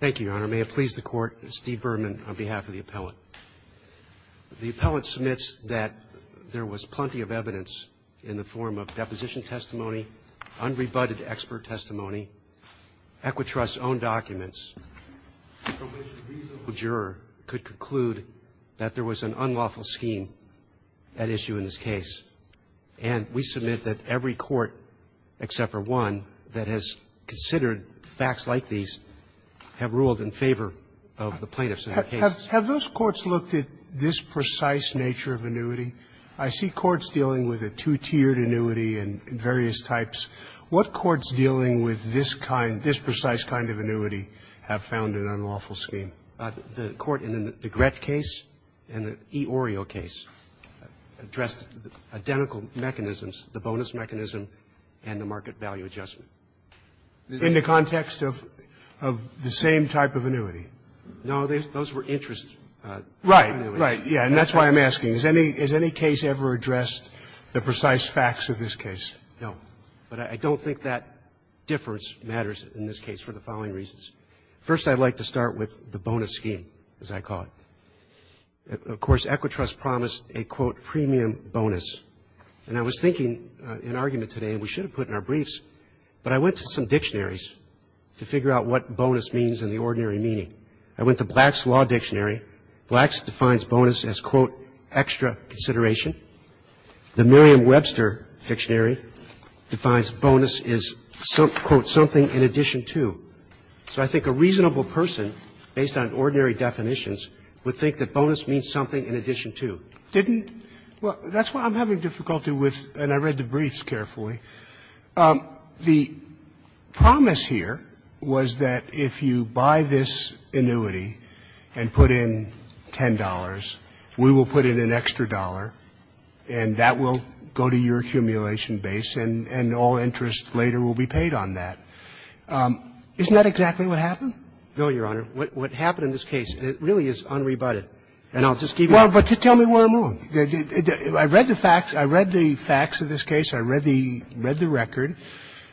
Thank you, Your Honor. May it please the Court, Steve Berman on behalf of the appellate. The appellate submits that there was plenty of evidence in the form of deposition testimony, unrebutted expert testimony, EquiTrust's own documents, from which a reasonable juror could conclude that there was an unlawful scheme at issue in this case. And we submit that every court, except for one, that has considered facts like these have ruled in favor of the plaintiffs in that case. Have those courts looked at this precise nature of annuity? I see courts dealing with a two-tiered annuity and various types. What courts dealing with this kind, this precise kind of annuity, have found an unlawful scheme? The court in the Grett case and the eOrio case addressed identical mechanisms, the bonus mechanism and the market value adjustment. In the context of the same type of annuity? No, those were interest annuities. Right, right. Yeah. And that's why I'm asking. Has any case ever addressed the precise facts of this case? No. But I don't think that difference matters in this case for the following reasons. First, I'd like to start with the bonus scheme, as I call it. Of course, EquiTrust promised a, quote, premium bonus. And I was thinking in argument today, and we should have put in our briefs, but I went to some dictionaries to figure out what bonus means in the ordinary meaning. I went to Black's Law Dictionary. Black's defines bonus as, quote, extra consideration. The Merriam-Webster Dictionary defines bonus as, quote, something in addition to. So I think a reasonable person, based on ordinary definitions, would think that bonus means something in addition to. Didn't the law say in the dictionary, quote, something in addition to, and I read the promise here was that if you buy this annuity and put in $10, we will put in an extra dollar, and that will go to your accumulation base, and all interest later will be paid on that. Isn't that exactly what happened? No, Your Honor. What happened in this case, it really is unrebutted. And I'll just keep going. Well, but tell me where I'm wrong. I read the facts. I read the facts of this case. I read the record.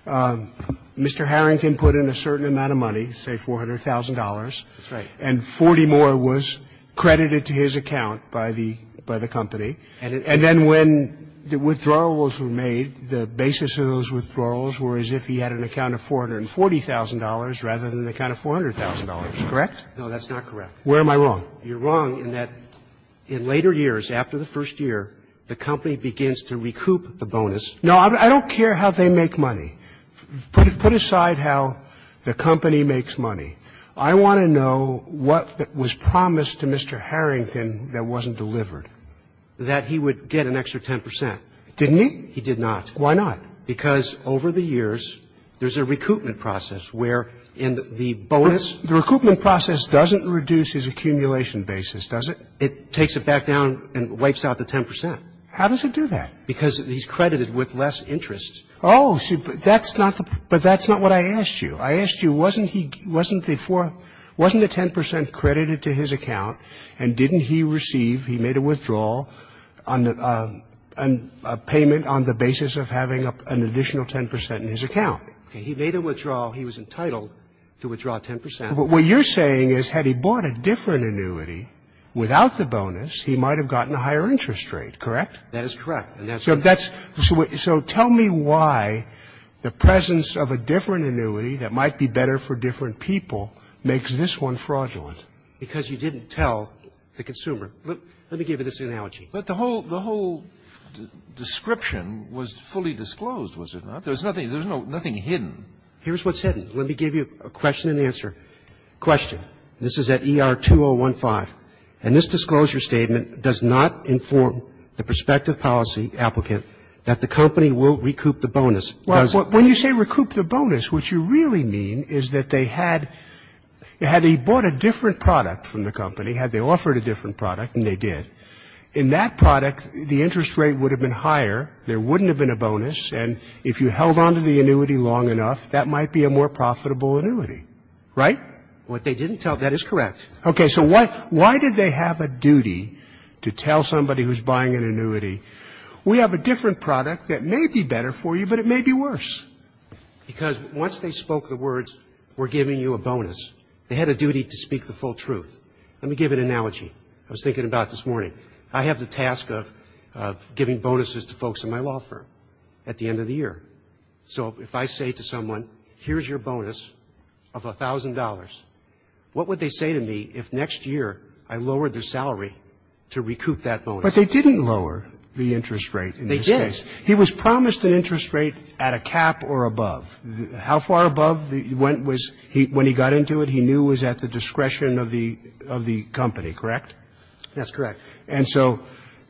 Mr. Harrington put in a certain amount of money, say $400,000. That's right. And 40 more was credited to his account by the company. And then when the withdrawals were made, the basis of those withdrawals were as if he had an account of $440,000 rather than an account of $400,000. Correct? No, that's not correct. Where am I wrong? You're wrong in that in later years, after the first year, the company begins to recoup the bonus. No, I don't care how they make money. Put aside how the company makes money. I want to know what was promised to Mr. Harrington that wasn't delivered. That he would get an extra 10 percent. Didn't he? He did not. Why not? Because over the years, there's a recoupment process where in the bonus the recoupment process doesn't reduce his accumulation basis, does it? It takes it back down and wipes out the 10 percent. How does it do that? Because he's credited with less interest. Oh, but that's not what I asked you. I asked you, wasn't he before the 10 percent credited to his account and didn't he receive, he made a withdrawal, a payment on the basis of having an additional 10 percent in his account? He made a withdrawal. He was entitled to withdraw 10 percent. What you're saying is had he bought a different annuity without the bonus, he might have gotten a higher interest rate, correct? That is correct. So that's so tell me why the presence of a different annuity that might be better for different people makes this one fraudulent. Because you didn't tell the consumer. Let me give you this analogy. But the whole description was fully disclosed, was it not? There was nothing hidden. Here's what's hidden. Let me give you a question and answer. Question. This is at ER2015. And this disclosure statement does not inform the prospective policy applicant that the company will recoup the bonus. Because when you say recoup the bonus, what you really mean is that they had, had he bought a different product from the company, had they offered a different product, and they did, in that product, the interest rate would have been higher, there wouldn't have been a bonus, and if you held on to the annuity long enough, that might be a more profitable annuity, right? What they didn't tell, that is correct. Okay. So why, why did they have a duty to tell somebody who's buying an annuity, we have a different product that may be better for you, but it may be worse? Because once they spoke the words, we're giving you a bonus, they had a duty to speak the full truth. Let me give an analogy. I was thinking about it this morning. I have the task of, of giving bonuses to folks in my law firm at the end of the year. So if I say to someone, here's your bonus of $1,000, what would they say to me if next year I lowered their salary to recoup that bonus? But they didn't lower the interest rate in this case. They did. He was promised an interest rate at a cap or above. How far above he went was, when he got into it, he knew it was at the discretion of the, of the company, correct? That's correct. And so,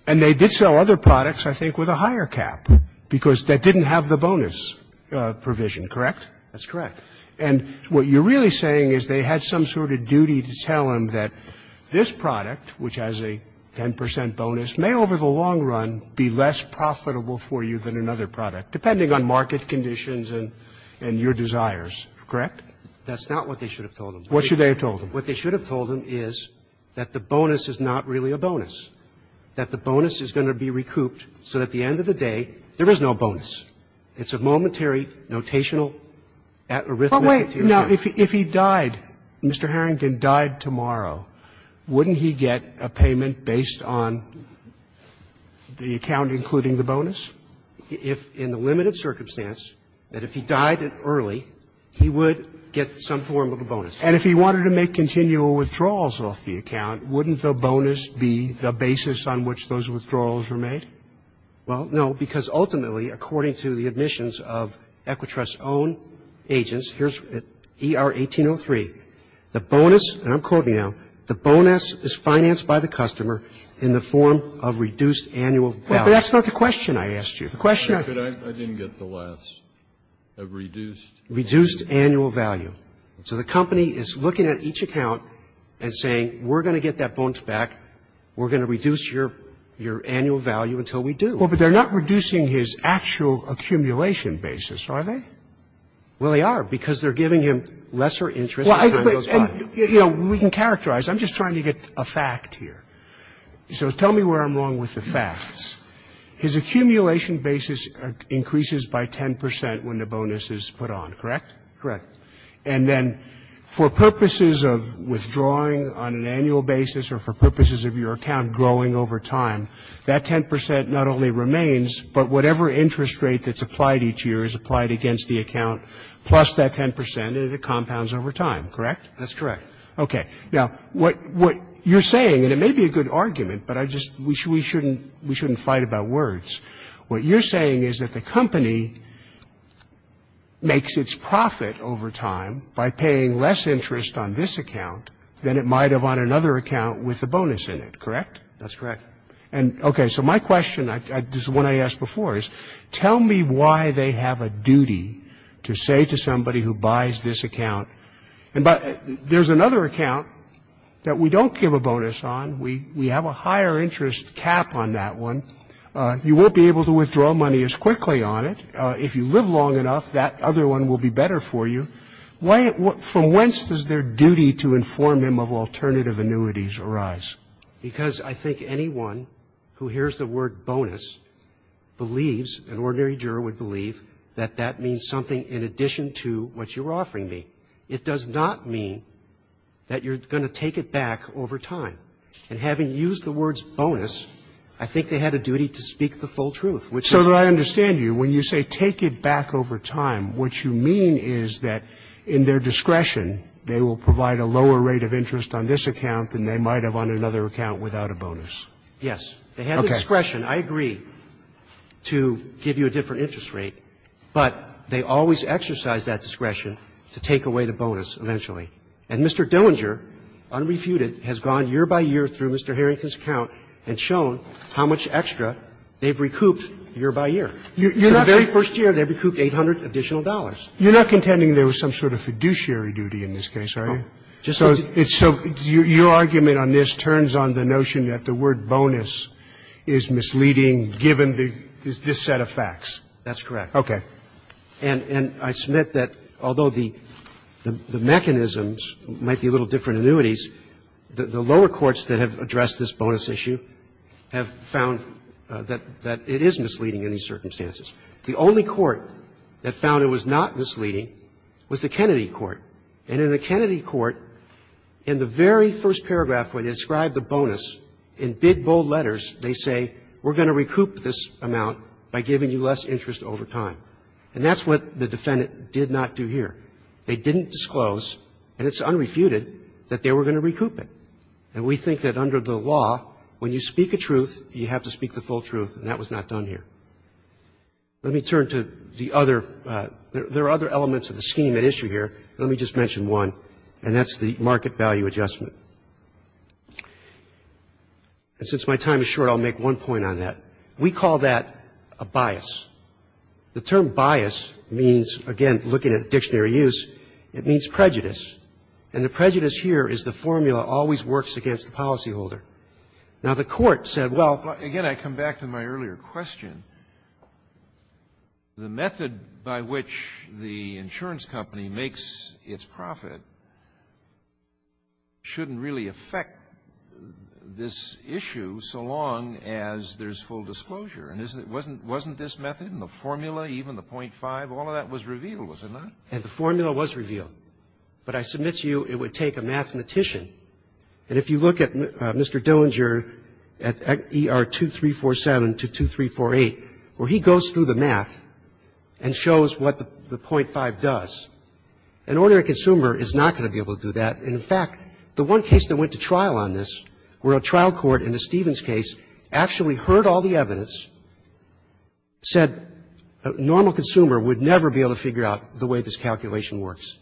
and they did sell other products, I think, with a higher cap. Because that didn't have the bonus provision, correct? That's correct. And what you're really saying is they had some sort of duty to tell him that this product, which has a 10 percent bonus, may over the long run be less profitable for you than another product, depending on market conditions and, and your desires, correct? That's not what they should have told him. What should they have told him? What they should have told him is that the bonus is not really a bonus. That the bonus is going to be recouped so that at the end of the day, there is no bonus. It's a momentary, notational, arithmetic. But wait. Now, if he died, Mr. Harrington died tomorrow, wouldn't he get a payment based on the account including the bonus? If, in the limited circumstance, that if he died early, he would get some form of a bonus. And if he wanted to make continual withdrawals off the account, wouldn't the bonus be the basis on which those withdrawals were made? Well, no, because ultimately, according to the admissions of Equitrust's own agents, here's ER-1803, the bonus, and I'm quoting now, the bonus is financed by the customer in the form of reduced annual value. Well, but that's not the question I asked you. The question I... I didn't get the last. A reduced... Reduced annual value. So the company is looking at each account and saying, we're going to get that bonus back, we're going to reduce your annual value until we do. Well, but they're not reducing his actual accumulation basis, are they? Well, they are, because they're giving him lesser interest... Well, I... And, you know, we can characterize. I'm just trying to get a fact here. So tell me where I'm wrong with the facts. His accumulation basis increases by 10 percent when the bonus is put on, correct? Correct. And then for purposes of withdrawing on an annual basis or for purposes of your account growing over time, that 10 percent not only remains, but whatever interest rate that's applied each year is applied against the account, plus that 10 percent, and it compounds over time, correct? That's correct. Okay. Now, what you're saying, and it may be a good argument, but I just, we shouldn't fight about words. What you're saying is that the company makes its profit over time by paying less interest on this account than it might have on another account with a bonus in it, correct? That's correct. And, okay, so my question, this is one I asked before, is tell me why they have a duty to say to somebody who buys this account... There's another account that we don't give a bonus on. We have a higher interest cap on that one. You won't be able to withdraw money as quickly on it. If you live long enough, that other one will be better for you. Why, from whence does their duty to inform them of alternative annuities arise? Because I think anyone who hears the word bonus believes, an ordinary juror would believe, that that means something in addition to what you're offering me. It does not mean that you're going to take it back over time. And having used the words bonus, I think they had a duty to speak the full truth, which is... So that I understand you, when you say take it back over time, what you mean is that in their discretion they will provide a lower rate of interest on this account than they might have on another account without a bonus? Yes. Okay. They have discretion, I agree, to give you a different interest rate, but they always exercise that discretion to take away the bonus eventually. And Mr. Dillinger, unrefuted, has gone year by year through Mr. Harrington's account and shown how much extra they've recouped year by year. So the very first year, they recouped 800 additional dollars. You're not contending there was some sort of fiduciary duty in this case, are you? No. So your argument on this turns on the notion that the word bonus is misleading given this set of facts. That's correct. Okay. And I submit that although the mechanisms might be a little different annuities, the lower courts that have addressed this bonus issue have found that it is misleading in these circumstances. The only court that found it was not misleading was the Kennedy court. And in the Kennedy court, in the very first paragraph where they ascribe the bonus, in big, bold letters, they say we're going to recoup this amount by giving you less interest over time. And that's what the defendant did not do here. They didn't disclose, and it's unrefuted, that they were going to recoup it. And we think that under the law, when you speak a truth, you have to speak the full truth, and that was not done here. Let me turn to the other, there are other elements of the scheme at issue here. Let me just mention one, and that's the market value adjustment. And since my time is short, I'll make one point on that. We call that a bias. The term bias means, again, looking at dictionary use, it means prejudice. And the prejudice here is the formula always works against the policyholder. Now, the Court said, well --" Scalia, again, I come back to my earlier question. The method by which the insurance company makes its profit shouldn't really affect this issue so long as there's full disclosure. And wasn't this method and the formula, even the .5, all of that was revealed, was it not? And the formula was revealed. But I submit to you, it would take a mathematician. And if you look at Mr. Dillinger at ER 2347 to 2348, where he goes through the math and shows what the .5 does, an ordinary consumer is not going to be able to do that. And, in fact, the one case that went to trial on this, where a trial court in the Stevens case actually heard all the evidence, said a normal consumer would never be able to figure out the way this calculation works.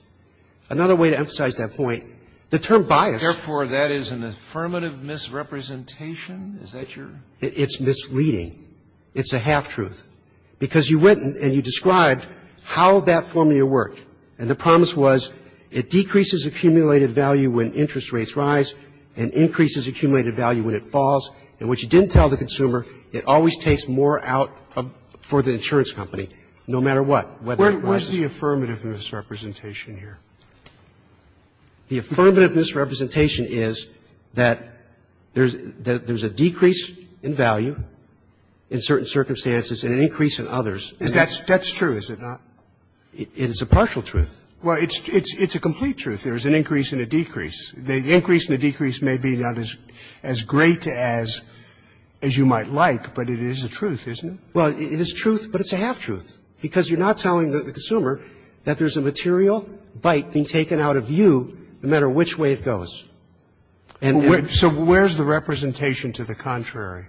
Another way to emphasize that point, the term bias --" Therefore, that is an affirmative misrepresentation? Is that your --" It's misleading. It's a half-truth. Because you went and you described how that formula worked. And the promise was it decreases accumulated value when interest rates rise and increases accumulated value when it falls. And what you didn't tell the consumer, it always takes more out for the insurance company, no matter what, whether it rises. Where's the affirmative misrepresentation here? The affirmative misrepresentation is that there's a decrease in value in certain circumstances and an increase in others. That's true, is it not? It is a partial truth. Well, it's a complete truth. There is an increase and a decrease. The increase and the decrease may be not as great as you might like, but it is the truth, isn't it? Well, it is truth, but it's a half-truth. Because you're not telling the consumer that there's a material bite being taken out of you, no matter which way it goes. So where's the representation to the contrary?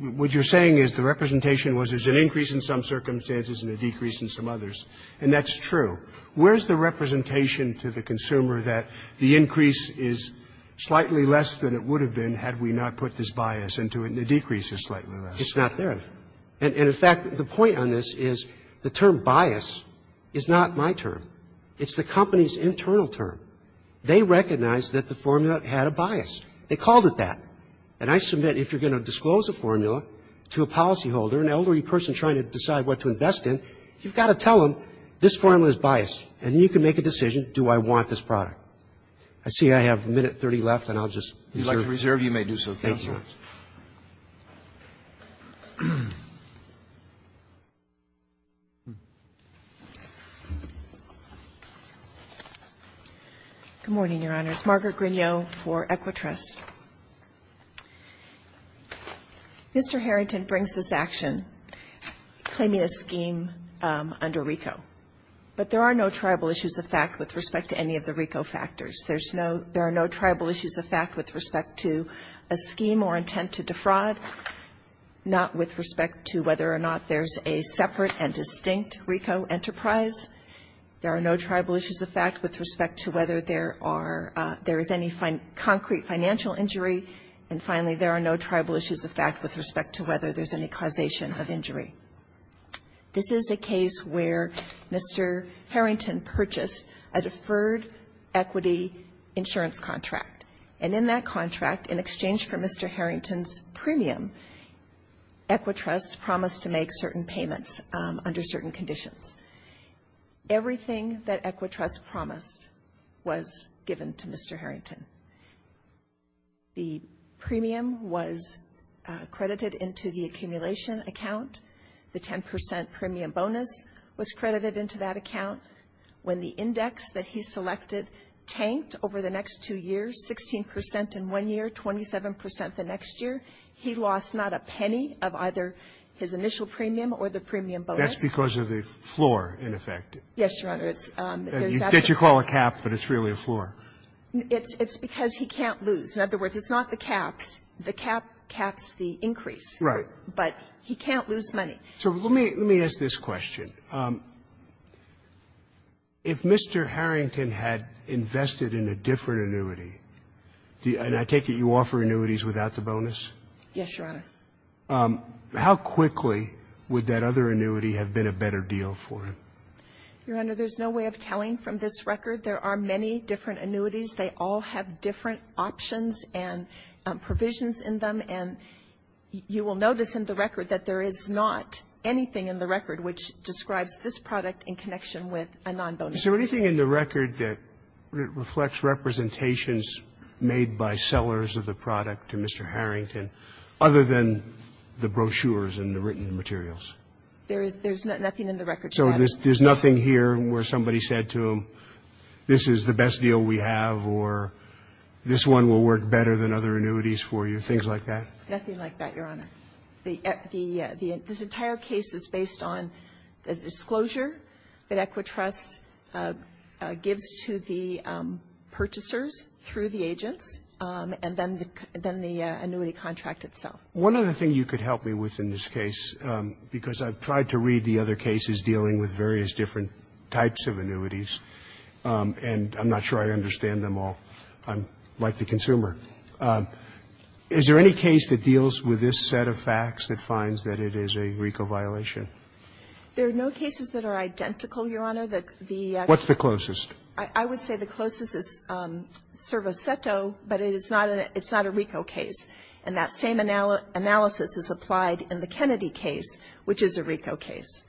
What you're saying is the representation was there's an increase in some circumstances and a decrease in some others. And that's true. Where's the representation to the consumer that the increase is slightly less than it would have been had we not put this bias into it and the decrease is slightly less? It's not there. And in fact, the point on this is the term bias is not my term. It's the company's internal term. They recognized that the formula had a bias. They called it that. And I submit, if you're going to disclose a formula to a policyholder, an elderly person trying to decide what to invest in, you've got to tell them this formula has this bias, and then you can make a decision, do I want this product? I see I have a minute 30 left, and I'll just reserve. If you'd like to reserve, you may do so, counsel. Thank you. Good morning, Your Honors. Margaret Grignot for Equitrust. Mr. Harrington brings this action, claiming a scheme under RICO. But there are no tribal issues of fact with respect to any of the RICO factors. There are no tribal issues of fact with respect to a scheme or intent to defraud, not with respect to whether or not there's a separate and distinct RICO enterprise. There are no tribal issues of fact with respect to whether there is any concrete financial injury. And finally, there are no tribal issues of fact with respect to whether there's any causation of injury. This is a case where Mr. Harrington purchased a deferred equity insurance contract. And in that contract, in exchange for Mr. Harrington's premium, Equitrust promised to make certain payments under certain conditions. Everything that Equitrust promised was given to Mr. Harrington. The premium was credited into the accumulation account. The 10 percent premium bonus was credited into that account. When the index that he selected tanked over the next two years, 16 percent in one year, 27 percent the next year, he lost not a penny of either his initial premium or the premium bonus. That's because of the floor, in effect. Yes, Your Honor. It's actually ---- You call it a cap, but it's really a floor. It's because he can't lose. In other words, it's not the caps. The cap caps the increase. Right. But he can't lose money. So let me ask this question. If Mr. Harrington had invested in a different annuity, and I take it you offer annuities without the bonus? Yes, Your Honor. How quickly would that other annuity have been a better deal for him? Your Honor, there's no way of telling from this record. There are many different annuities. They all have different options and provisions in them. And you will notice in the record that there is not anything in the record which describes this product in connection with a nonbonus. Is there anything in the record that reflects representations made by sellers of the product to Mr. Harrington other than the brochures and the written materials? There is nothing in the record to that effect. So there's nothing here where somebody said to him, this is the best deal we have or this one will work better than other annuities for you, things like that? Nothing like that, Your Honor. This entire case is based on the disclosure that Equitrust gives to the purchasers through the agents and then the annuity contract itself. One other thing you could help me with in this case, because I've tried to read the other cases dealing with various different types of annuities and I'm not sure I understand them all. I'm like the consumer. Is there any case that deals with this set of facts that finds that it is a RICO violation? There are no cases that are identical, Your Honor. What's the closest? I would say the closest is Cervo Ceto, but it's not a RICO case. And that same analysis is applied in the Kennedy case, which is a RICO case.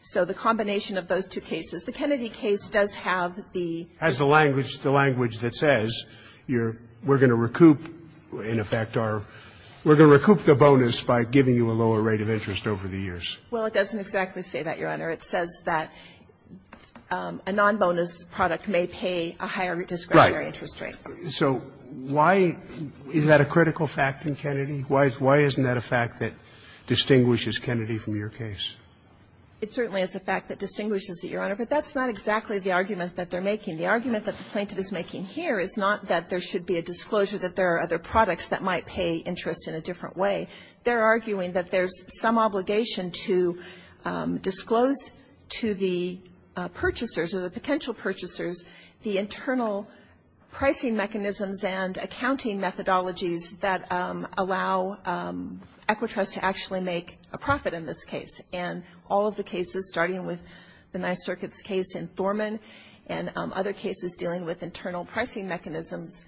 So the combination of those two cases. The Kennedy case does have the. Has the language that says we're going to recoup, in effect, our we're going to recoup the bonus by giving you a lower rate of interest over the years. Well, it doesn't exactly say that, Your Honor. It says that a non-bonus product may pay a higher discretionary interest rate. Right. So why is that a critical fact in Kennedy? Why isn't that a fact that distinguishes Kennedy from your case? It certainly is a fact that distinguishes it, Your Honor. But that's not exactly the argument that they're making. The argument that the plaintiff is making here is not that there should be a disclosure that there are other products that might pay interest in a different way. They're arguing that there's some obligation to disclose to the purchasers, or the potential purchasers, the internal pricing mechanisms and accounting methodologies that allow Equitrust to actually make a profit in this case. And all of the cases, starting with the Nice Circuits case in Thorman and other cases dealing with internal pricing mechanisms,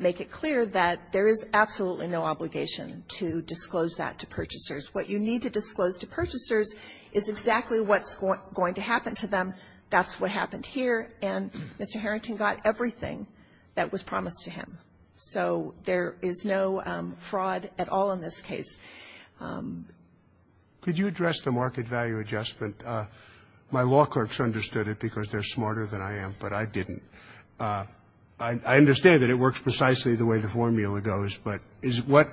make it clear that there is absolutely no obligation to disclose that to purchasers. What you need to disclose to purchasers is exactly what's going to happen to them. That's what happened here. And Mr. Harrington got everything that was promised to him. So there is no fraud at all in this case. Could you address the market value adjustment? My law clerks understood it because they're smarter than I am, but I didn't. I understand that it works precisely the way the formula goes. But is what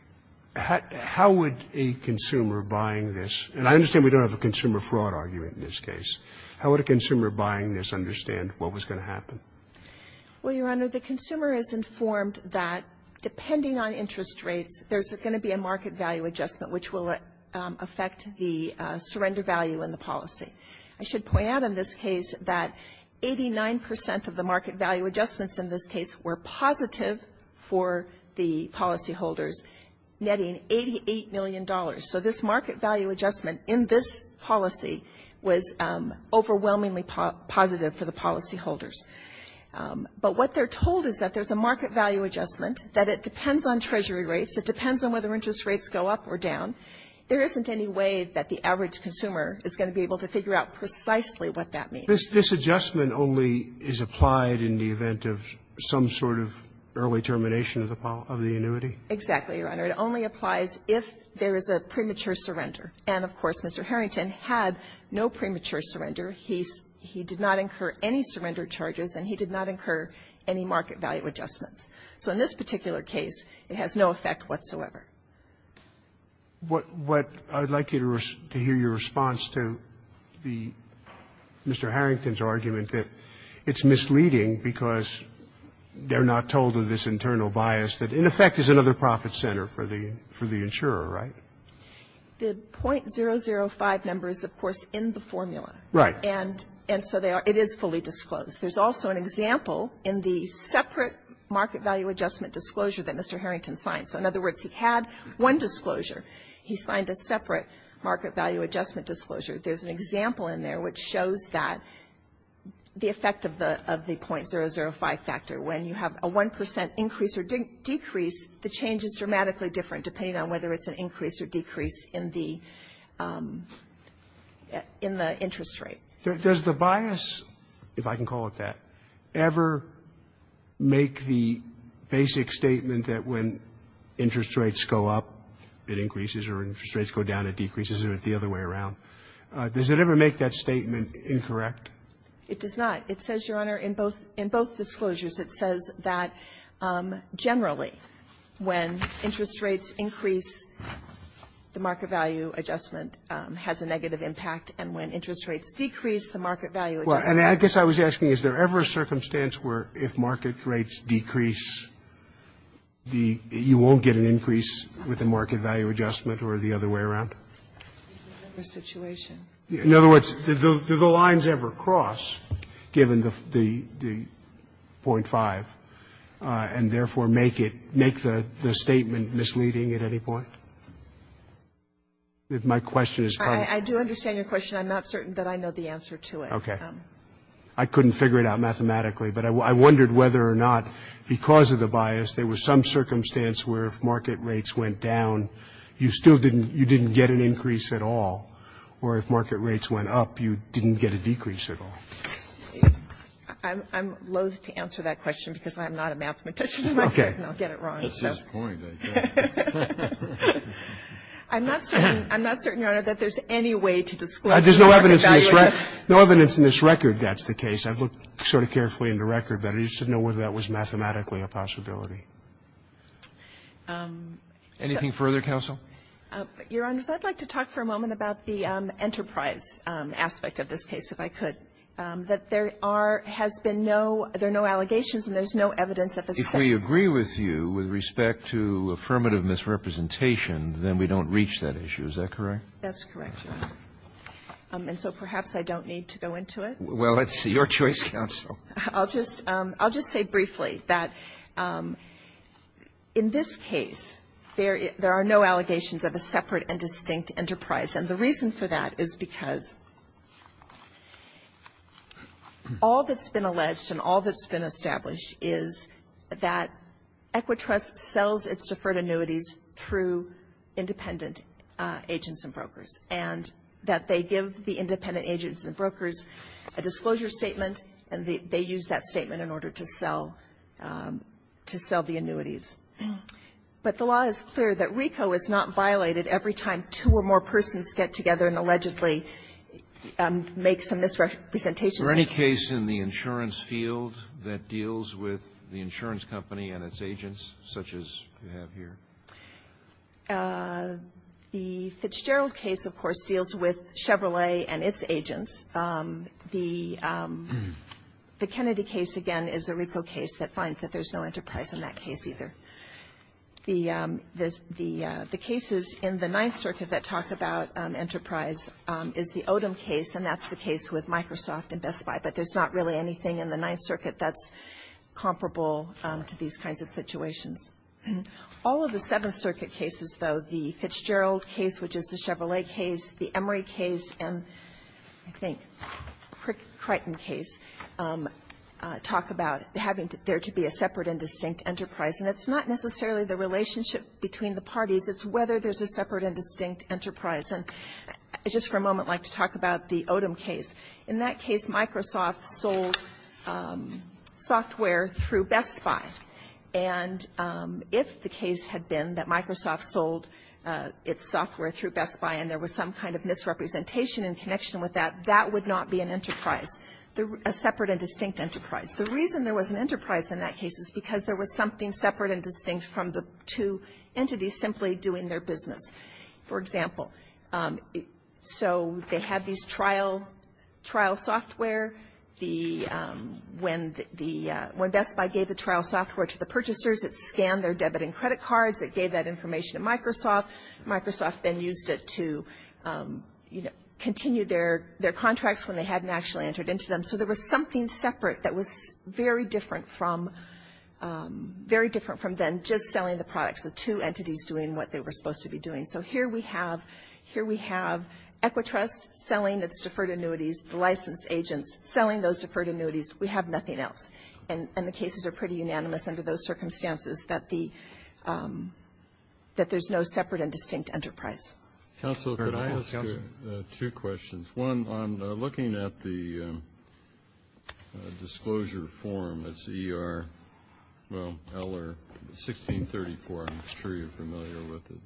– how would a consumer buying this – and I understand we don't have a consumer fraud argument in this case. How would a consumer buying this understand what was going to happen? Well, Your Honor, the consumer is informed that depending on interest rates, there's going to be a market value adjustment which will affect the surrender value in the policy. I should point out in this case that 89 percent of the market value adjustments in this case were positive for the policyholders, netting $88 million. So this market value adjustment in this policy was overwhelmingly positive for the policyholders. But what they're told is that there's a market value adjustment, that it depends on treasury rates, it depends on whether interest rates go up or down. There isn't any way that the average consumer is going to be able to figure out precisely what that means. This adjustment only is applied in the event of some sort of early termination of the annuity? Exactly, Your Honor. It only applies if there is a premature surrender. And, of course, Mr. Harrington had no premature surrender. He did not incur any surrender charges and he did not incur any market value adjustments. So in this particular case, it has no effect whatsoever. What I'd like you to hear your response to Mr. Harrington's argument that it's misleading because they're not told of this internal bias that, in effect, is another profit center for the insurer, right? The .005 number is, of course, in the formula. Right. And so it is fully disclosed. There's also an example in the separate market value adjustment disclosure that Mr. Harrington signed. So, in other words, he had one disclosure. He signed a separate market value adjustment disclosure. There's an example in there which shows that the effect of the .005 factor. When you have a 1% increase or decrease, the change is dramatically different depending on whether it's an increase or decrease in the interest rate. Does the bias, if I can call it that, ever make the basic statement that when interest rates go up, it increases, or interest rates go down, it decreases, or the other way around? Does it ever make that statement incorrect? It does not. It says, Your Honor, in both disclosures, it says that generally when interest rates increase, the market value adjustment has a negative impact, and when interest rates decrease, the market value adjustment. And I guess I was asking, is there ever a circumstance where if market rates decrease, you won't get an increase with the market value adjustment or the other way around? There's never a situation. In other words, do the lines ever cross, given the .005, and therefore make the statement misleading at any point? If my question is correct. I do understand your question. I'm not certain that I know the answer to it. Okay. I couldn't figure it out mathematically, but I wondered whether or not because of the bias, there was some circumstance where if market rates went down, you still didn't, you didn't get an increase at all, or if market rates went up, you didn't get a decrease at all. I'm loathe to answer that question because I'm not a mathematician. Okay. I'll get it wrong. That's his point, I think. I'm not certain, I'm not certain, Your Honor, that there's any way to disclose the market value adjustment. There's no evidence in this record. No evidence in this record that's the case. I've looked sort of carefully in the record, but I just didn't know whether that was mathematically a possibility. Anything further, counsel? Your Honors, I'd like to talk for a moment about the enterprise aspect of this case, if I could. at this time. If we agree with you with respect to affirmative misrepresentation, then we don't reach that issue, is that correct? That's correct, Your Honor. And so perhaps I don't need to go into it. Well, it's your choice, counsel. I'll just say briefly that in this case, there are no allegations of a separate and distinct enterprise, and the reason for that is because all that's been alleged and all that's been established is that Equitrust sells its deferred annuities through independent agents and brokers, and that they give the independent agents and brokers a disclosure statement, and they use that statement in order to sell the annuities. But the law is clear that RICO is not violated every time two or more persons get together and allegedly make some misrepresentations. Is there any case in the insurance field that deals with the insurance company and its agents, such as you have here? The Fitzgerald case, of course, deals with Chevrolet and its agents. The Kennedy case, again, is a RICO case that finds that there's no enterprise in that case either. The cases in the Ninth Circuit that talk about enterprise is the Odom case, and that's the case with Microsoft and Best Buy. But there's not really anything in the Ninth Circuit that's comparable to these kinds of situations. All of the Seventh Circuit cases, though, the Fitzgerald case, which is the Chevrolet case, the Emory case, and I think Crichton case, talk about having there to be a separate and distinct enterprise. And it's not necessarily the relationship between the parties. It's whether there's a separate and distinct enterprise. And just for a moment, I'd like to talk about the Odom case. In that case, Microsoft sold software through Best Buy. And if the case had been that Microsoft sold its software through Best Buy and there was some kind of misrepresentation in connection with that, that would not be an enterprise, a separate and distinct enterprise. The reason there was an enterprise in that case is because there was something separate and distinct from the two entities simply doing their business. For example, so they had these trial software. When Best Buy gave the trial software to the purchasers, it scanned their debit and credit cards. It gave that information to Microsoft. Microsoft then used it to continue their contracts when they hadn't actually entered into them. So there was something separate that was very different from then just selling the products, the two entities doing what they were supposed to be doing. So here we have Equitrust selling its deferred annuities, the licensed agents selling those deferred annuities. We have nothing else. And the cases are pretty unanimous under those circumstances that there's no separate and distinct enterprise. Council, could I ask you two questions? One, looking at the disclosure form, it's ER, well, LR 1634, I'm sure you're familiar with it.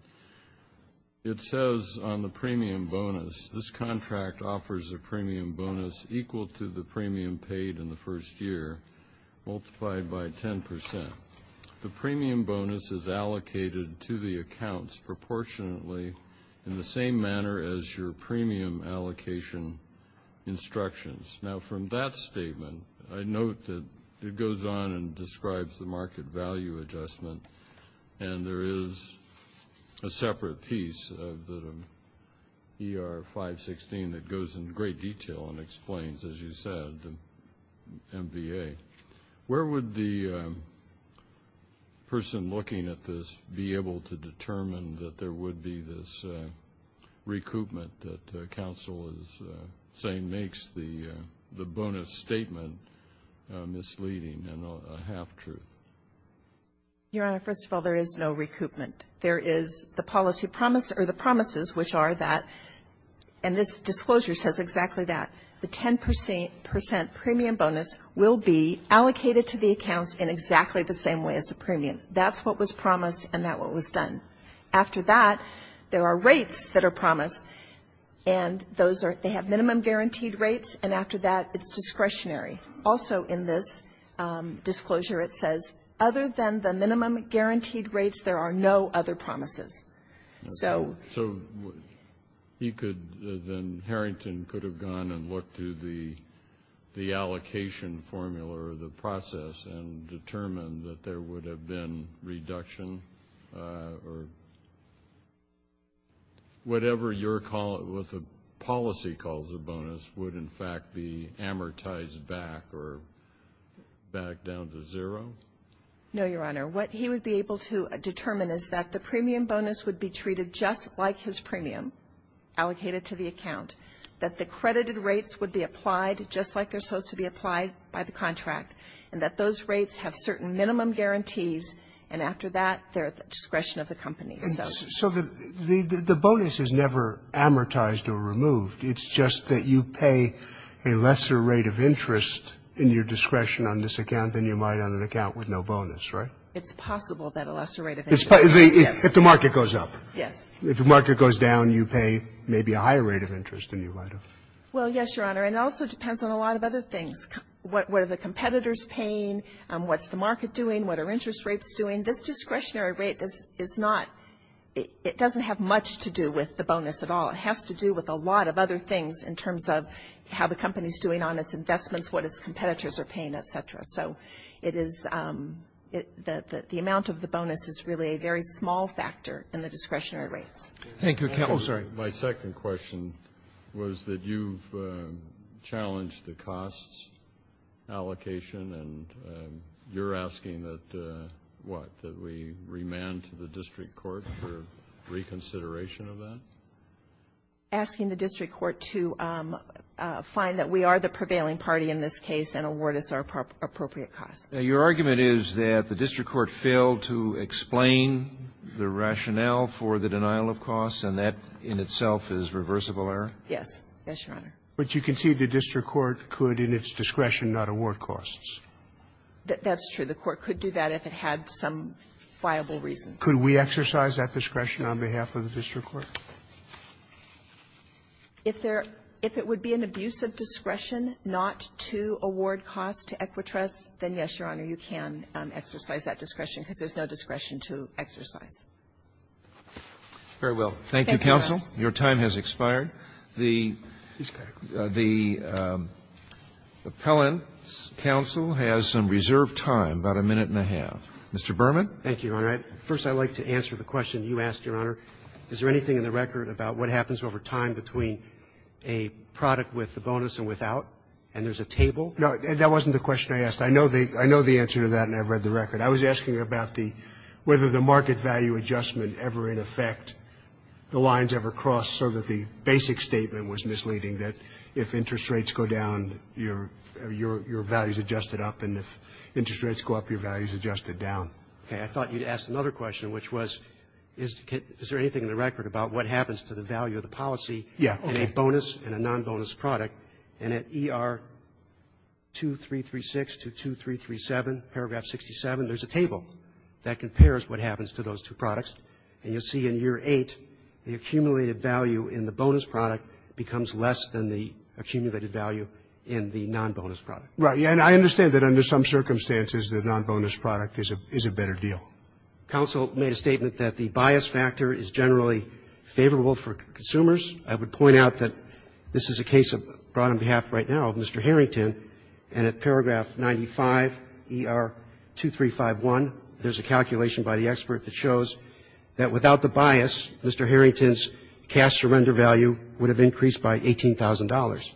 It says on the premium bonus, this contract offers a premium bonus equal to the premium paid in the first year multiplied by 10%. The premium bonus is allocated to the accounts proportionately in the same manner as your premium allocation instructions. Now, from that statement, I note that it goes on and describes the market value adjustment, and there is a separate piece of the ER 516 that goes in great detail and explains, as you said, the MBA. Where would the person looking at this be able to determine that there would be this recoupment that counsel is saying makes the bonus statement misleading and a half-truth? Your Honor, first of all, there is no recoupment. There is the policy promise or the promises, which are that, and this disclosure says exactly that, the 10% premium bonus will be allocated to the accounts in exactly the same way as the premium. That's what was promised, and that's what was done. After that, there are rates that are promised, and those are, they have minimum guaranteed rates, and after that, it's discretionary. Also in this disclosure, it says, other than the minimum guaranteed rates, there are no other promises. So you could, then Harrington could have gone and looked through the allocation formula or the process and determined that there would have been reduction or whatever your policy calls a bonus would, in fact, be amortized back or back down to zero? No, Your Honor. What he would be able to determine is that the premium bonus would be treated just like his premium allocated to the account, that the credited rates would be applied just like they're supposed to be applied by the contract, and that those rates have certain minimum guarantees, and after that, they're at the discretion of the company. So the bonus is never amortized or removed. It's just that you pay a lesser rate of interest in your discretion on this account than you might on an account with no bonus, right? It's possible that a lesser rate of interest, yes. If the market goes up. Yes. If the market goes down, you pay maybe a higher rate of interest than you might have. Well, yes, Your Honor. And it also depends on a lot of other things. What are the competitors paying? What's the market doing? What are interest rates doing? This discretionary rate is not, it doesn't have much to do with the bonus at all. It has to do with a lot of other things in terms of how the company is doing on its investments, what its competitors are paying, et cetera. So it is, the amount of the bonus is really a very small factor in the discretionary rates. Thank you. Oh, sorry. My second question was that you've challenged the costs allocation, and you're asking that, what, that we remand to the district court for reconsideration of that? Asking the district court to find that we are the prevailing party in this case and award us our appropriate costs. Now, your argument is that the district court failed to explain the rationale for the denial of costs, and that in itself is reversible error? Yes. Yes, Your Honor. But you concede the district court could, in its discretion, not award costs. That's true. The court could do that if it had some viable reasons. Could we exercise that discretion on behalf of the district court? If there – if it would be an abuse of discretion not to award costs to Equitrus, then, yes, Your Honor, you can exercise that discretion, because there's no discretion to exercise. Very well. Thank you, counsel. Your time has expired. The appellant's counsel has some reserved time, about a minute and a half. Mr. Berman. Thank you, Your Honor. First, I'd like to answer the question you asked, Your Honor. Is there anything in the record about what happens over time between a product with a bonus and without, and there's a table? No. That wasn't the question I asked. I know the answer to that, and I've read the record. I was asking about the – whether the market value adjustment ever, in effect, the lines ever crossed so that the basic statement was misleading, that if interest rates go down, your value's adjusted up, and if interest rates go up, your value's adjusted down. Okay. I thought you'd asked another question, which was, is there anything in the record about what happens to the value of the policy in a bonus and a non-bonus product? And at ER 2336 to 2337, paragraph 67, there's a table that compares what happens to those two products, and you'll see in year 8, the accumulated value in the bonus product becomes less than the accumulated value in the non-bonus product. Right. And I understand that under some circumstances, the non-bonus product is a better deal. Counsel made a statement that the bias factor is generally favorable for consumers. I would point out that this is a case brought on behalf right now of Mr. Harrington, and at paragraph 95, ER 2351, there's a calculation by the expert that shows that without the bias, Mr. Harrington's cash surrender value would have increased by $18,000.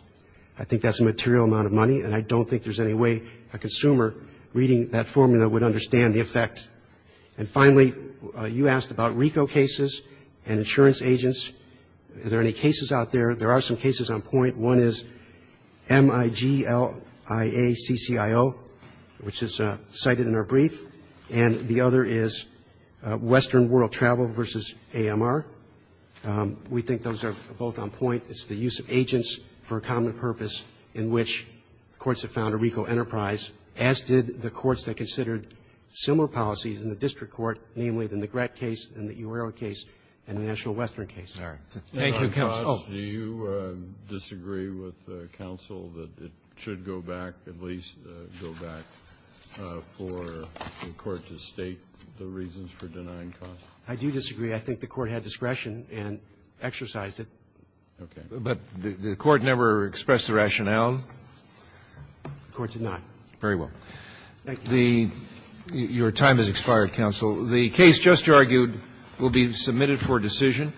I think that's a material amount of money, and I don't think there's any way a consumer reading that formula would understand the effect. And finally, you asked about RICO cases and insurance agents. Are there any cases out there? There are some cases on point. One is MIGLIACCIO, which is cited in our brief. And the other is Western World Travel versus AMR. We think those are both on point. It's the use of agents for a common purpose in which courts have found a RICO enterprise, as did the courts that considered similar policies in the district court, namely the McGrath case and the Eurero case and the National Western case. Thank you, counsel. Do you disagree with counsel that it should go back, at least go back, for the court to state the reasons for denying costs? I do disagree. I think the court had discretion and exercised it. Okay. But the court never expressed the rationale? The court did not. Very well. Your time has expired, counsel. The case just argued will be submitted for decision.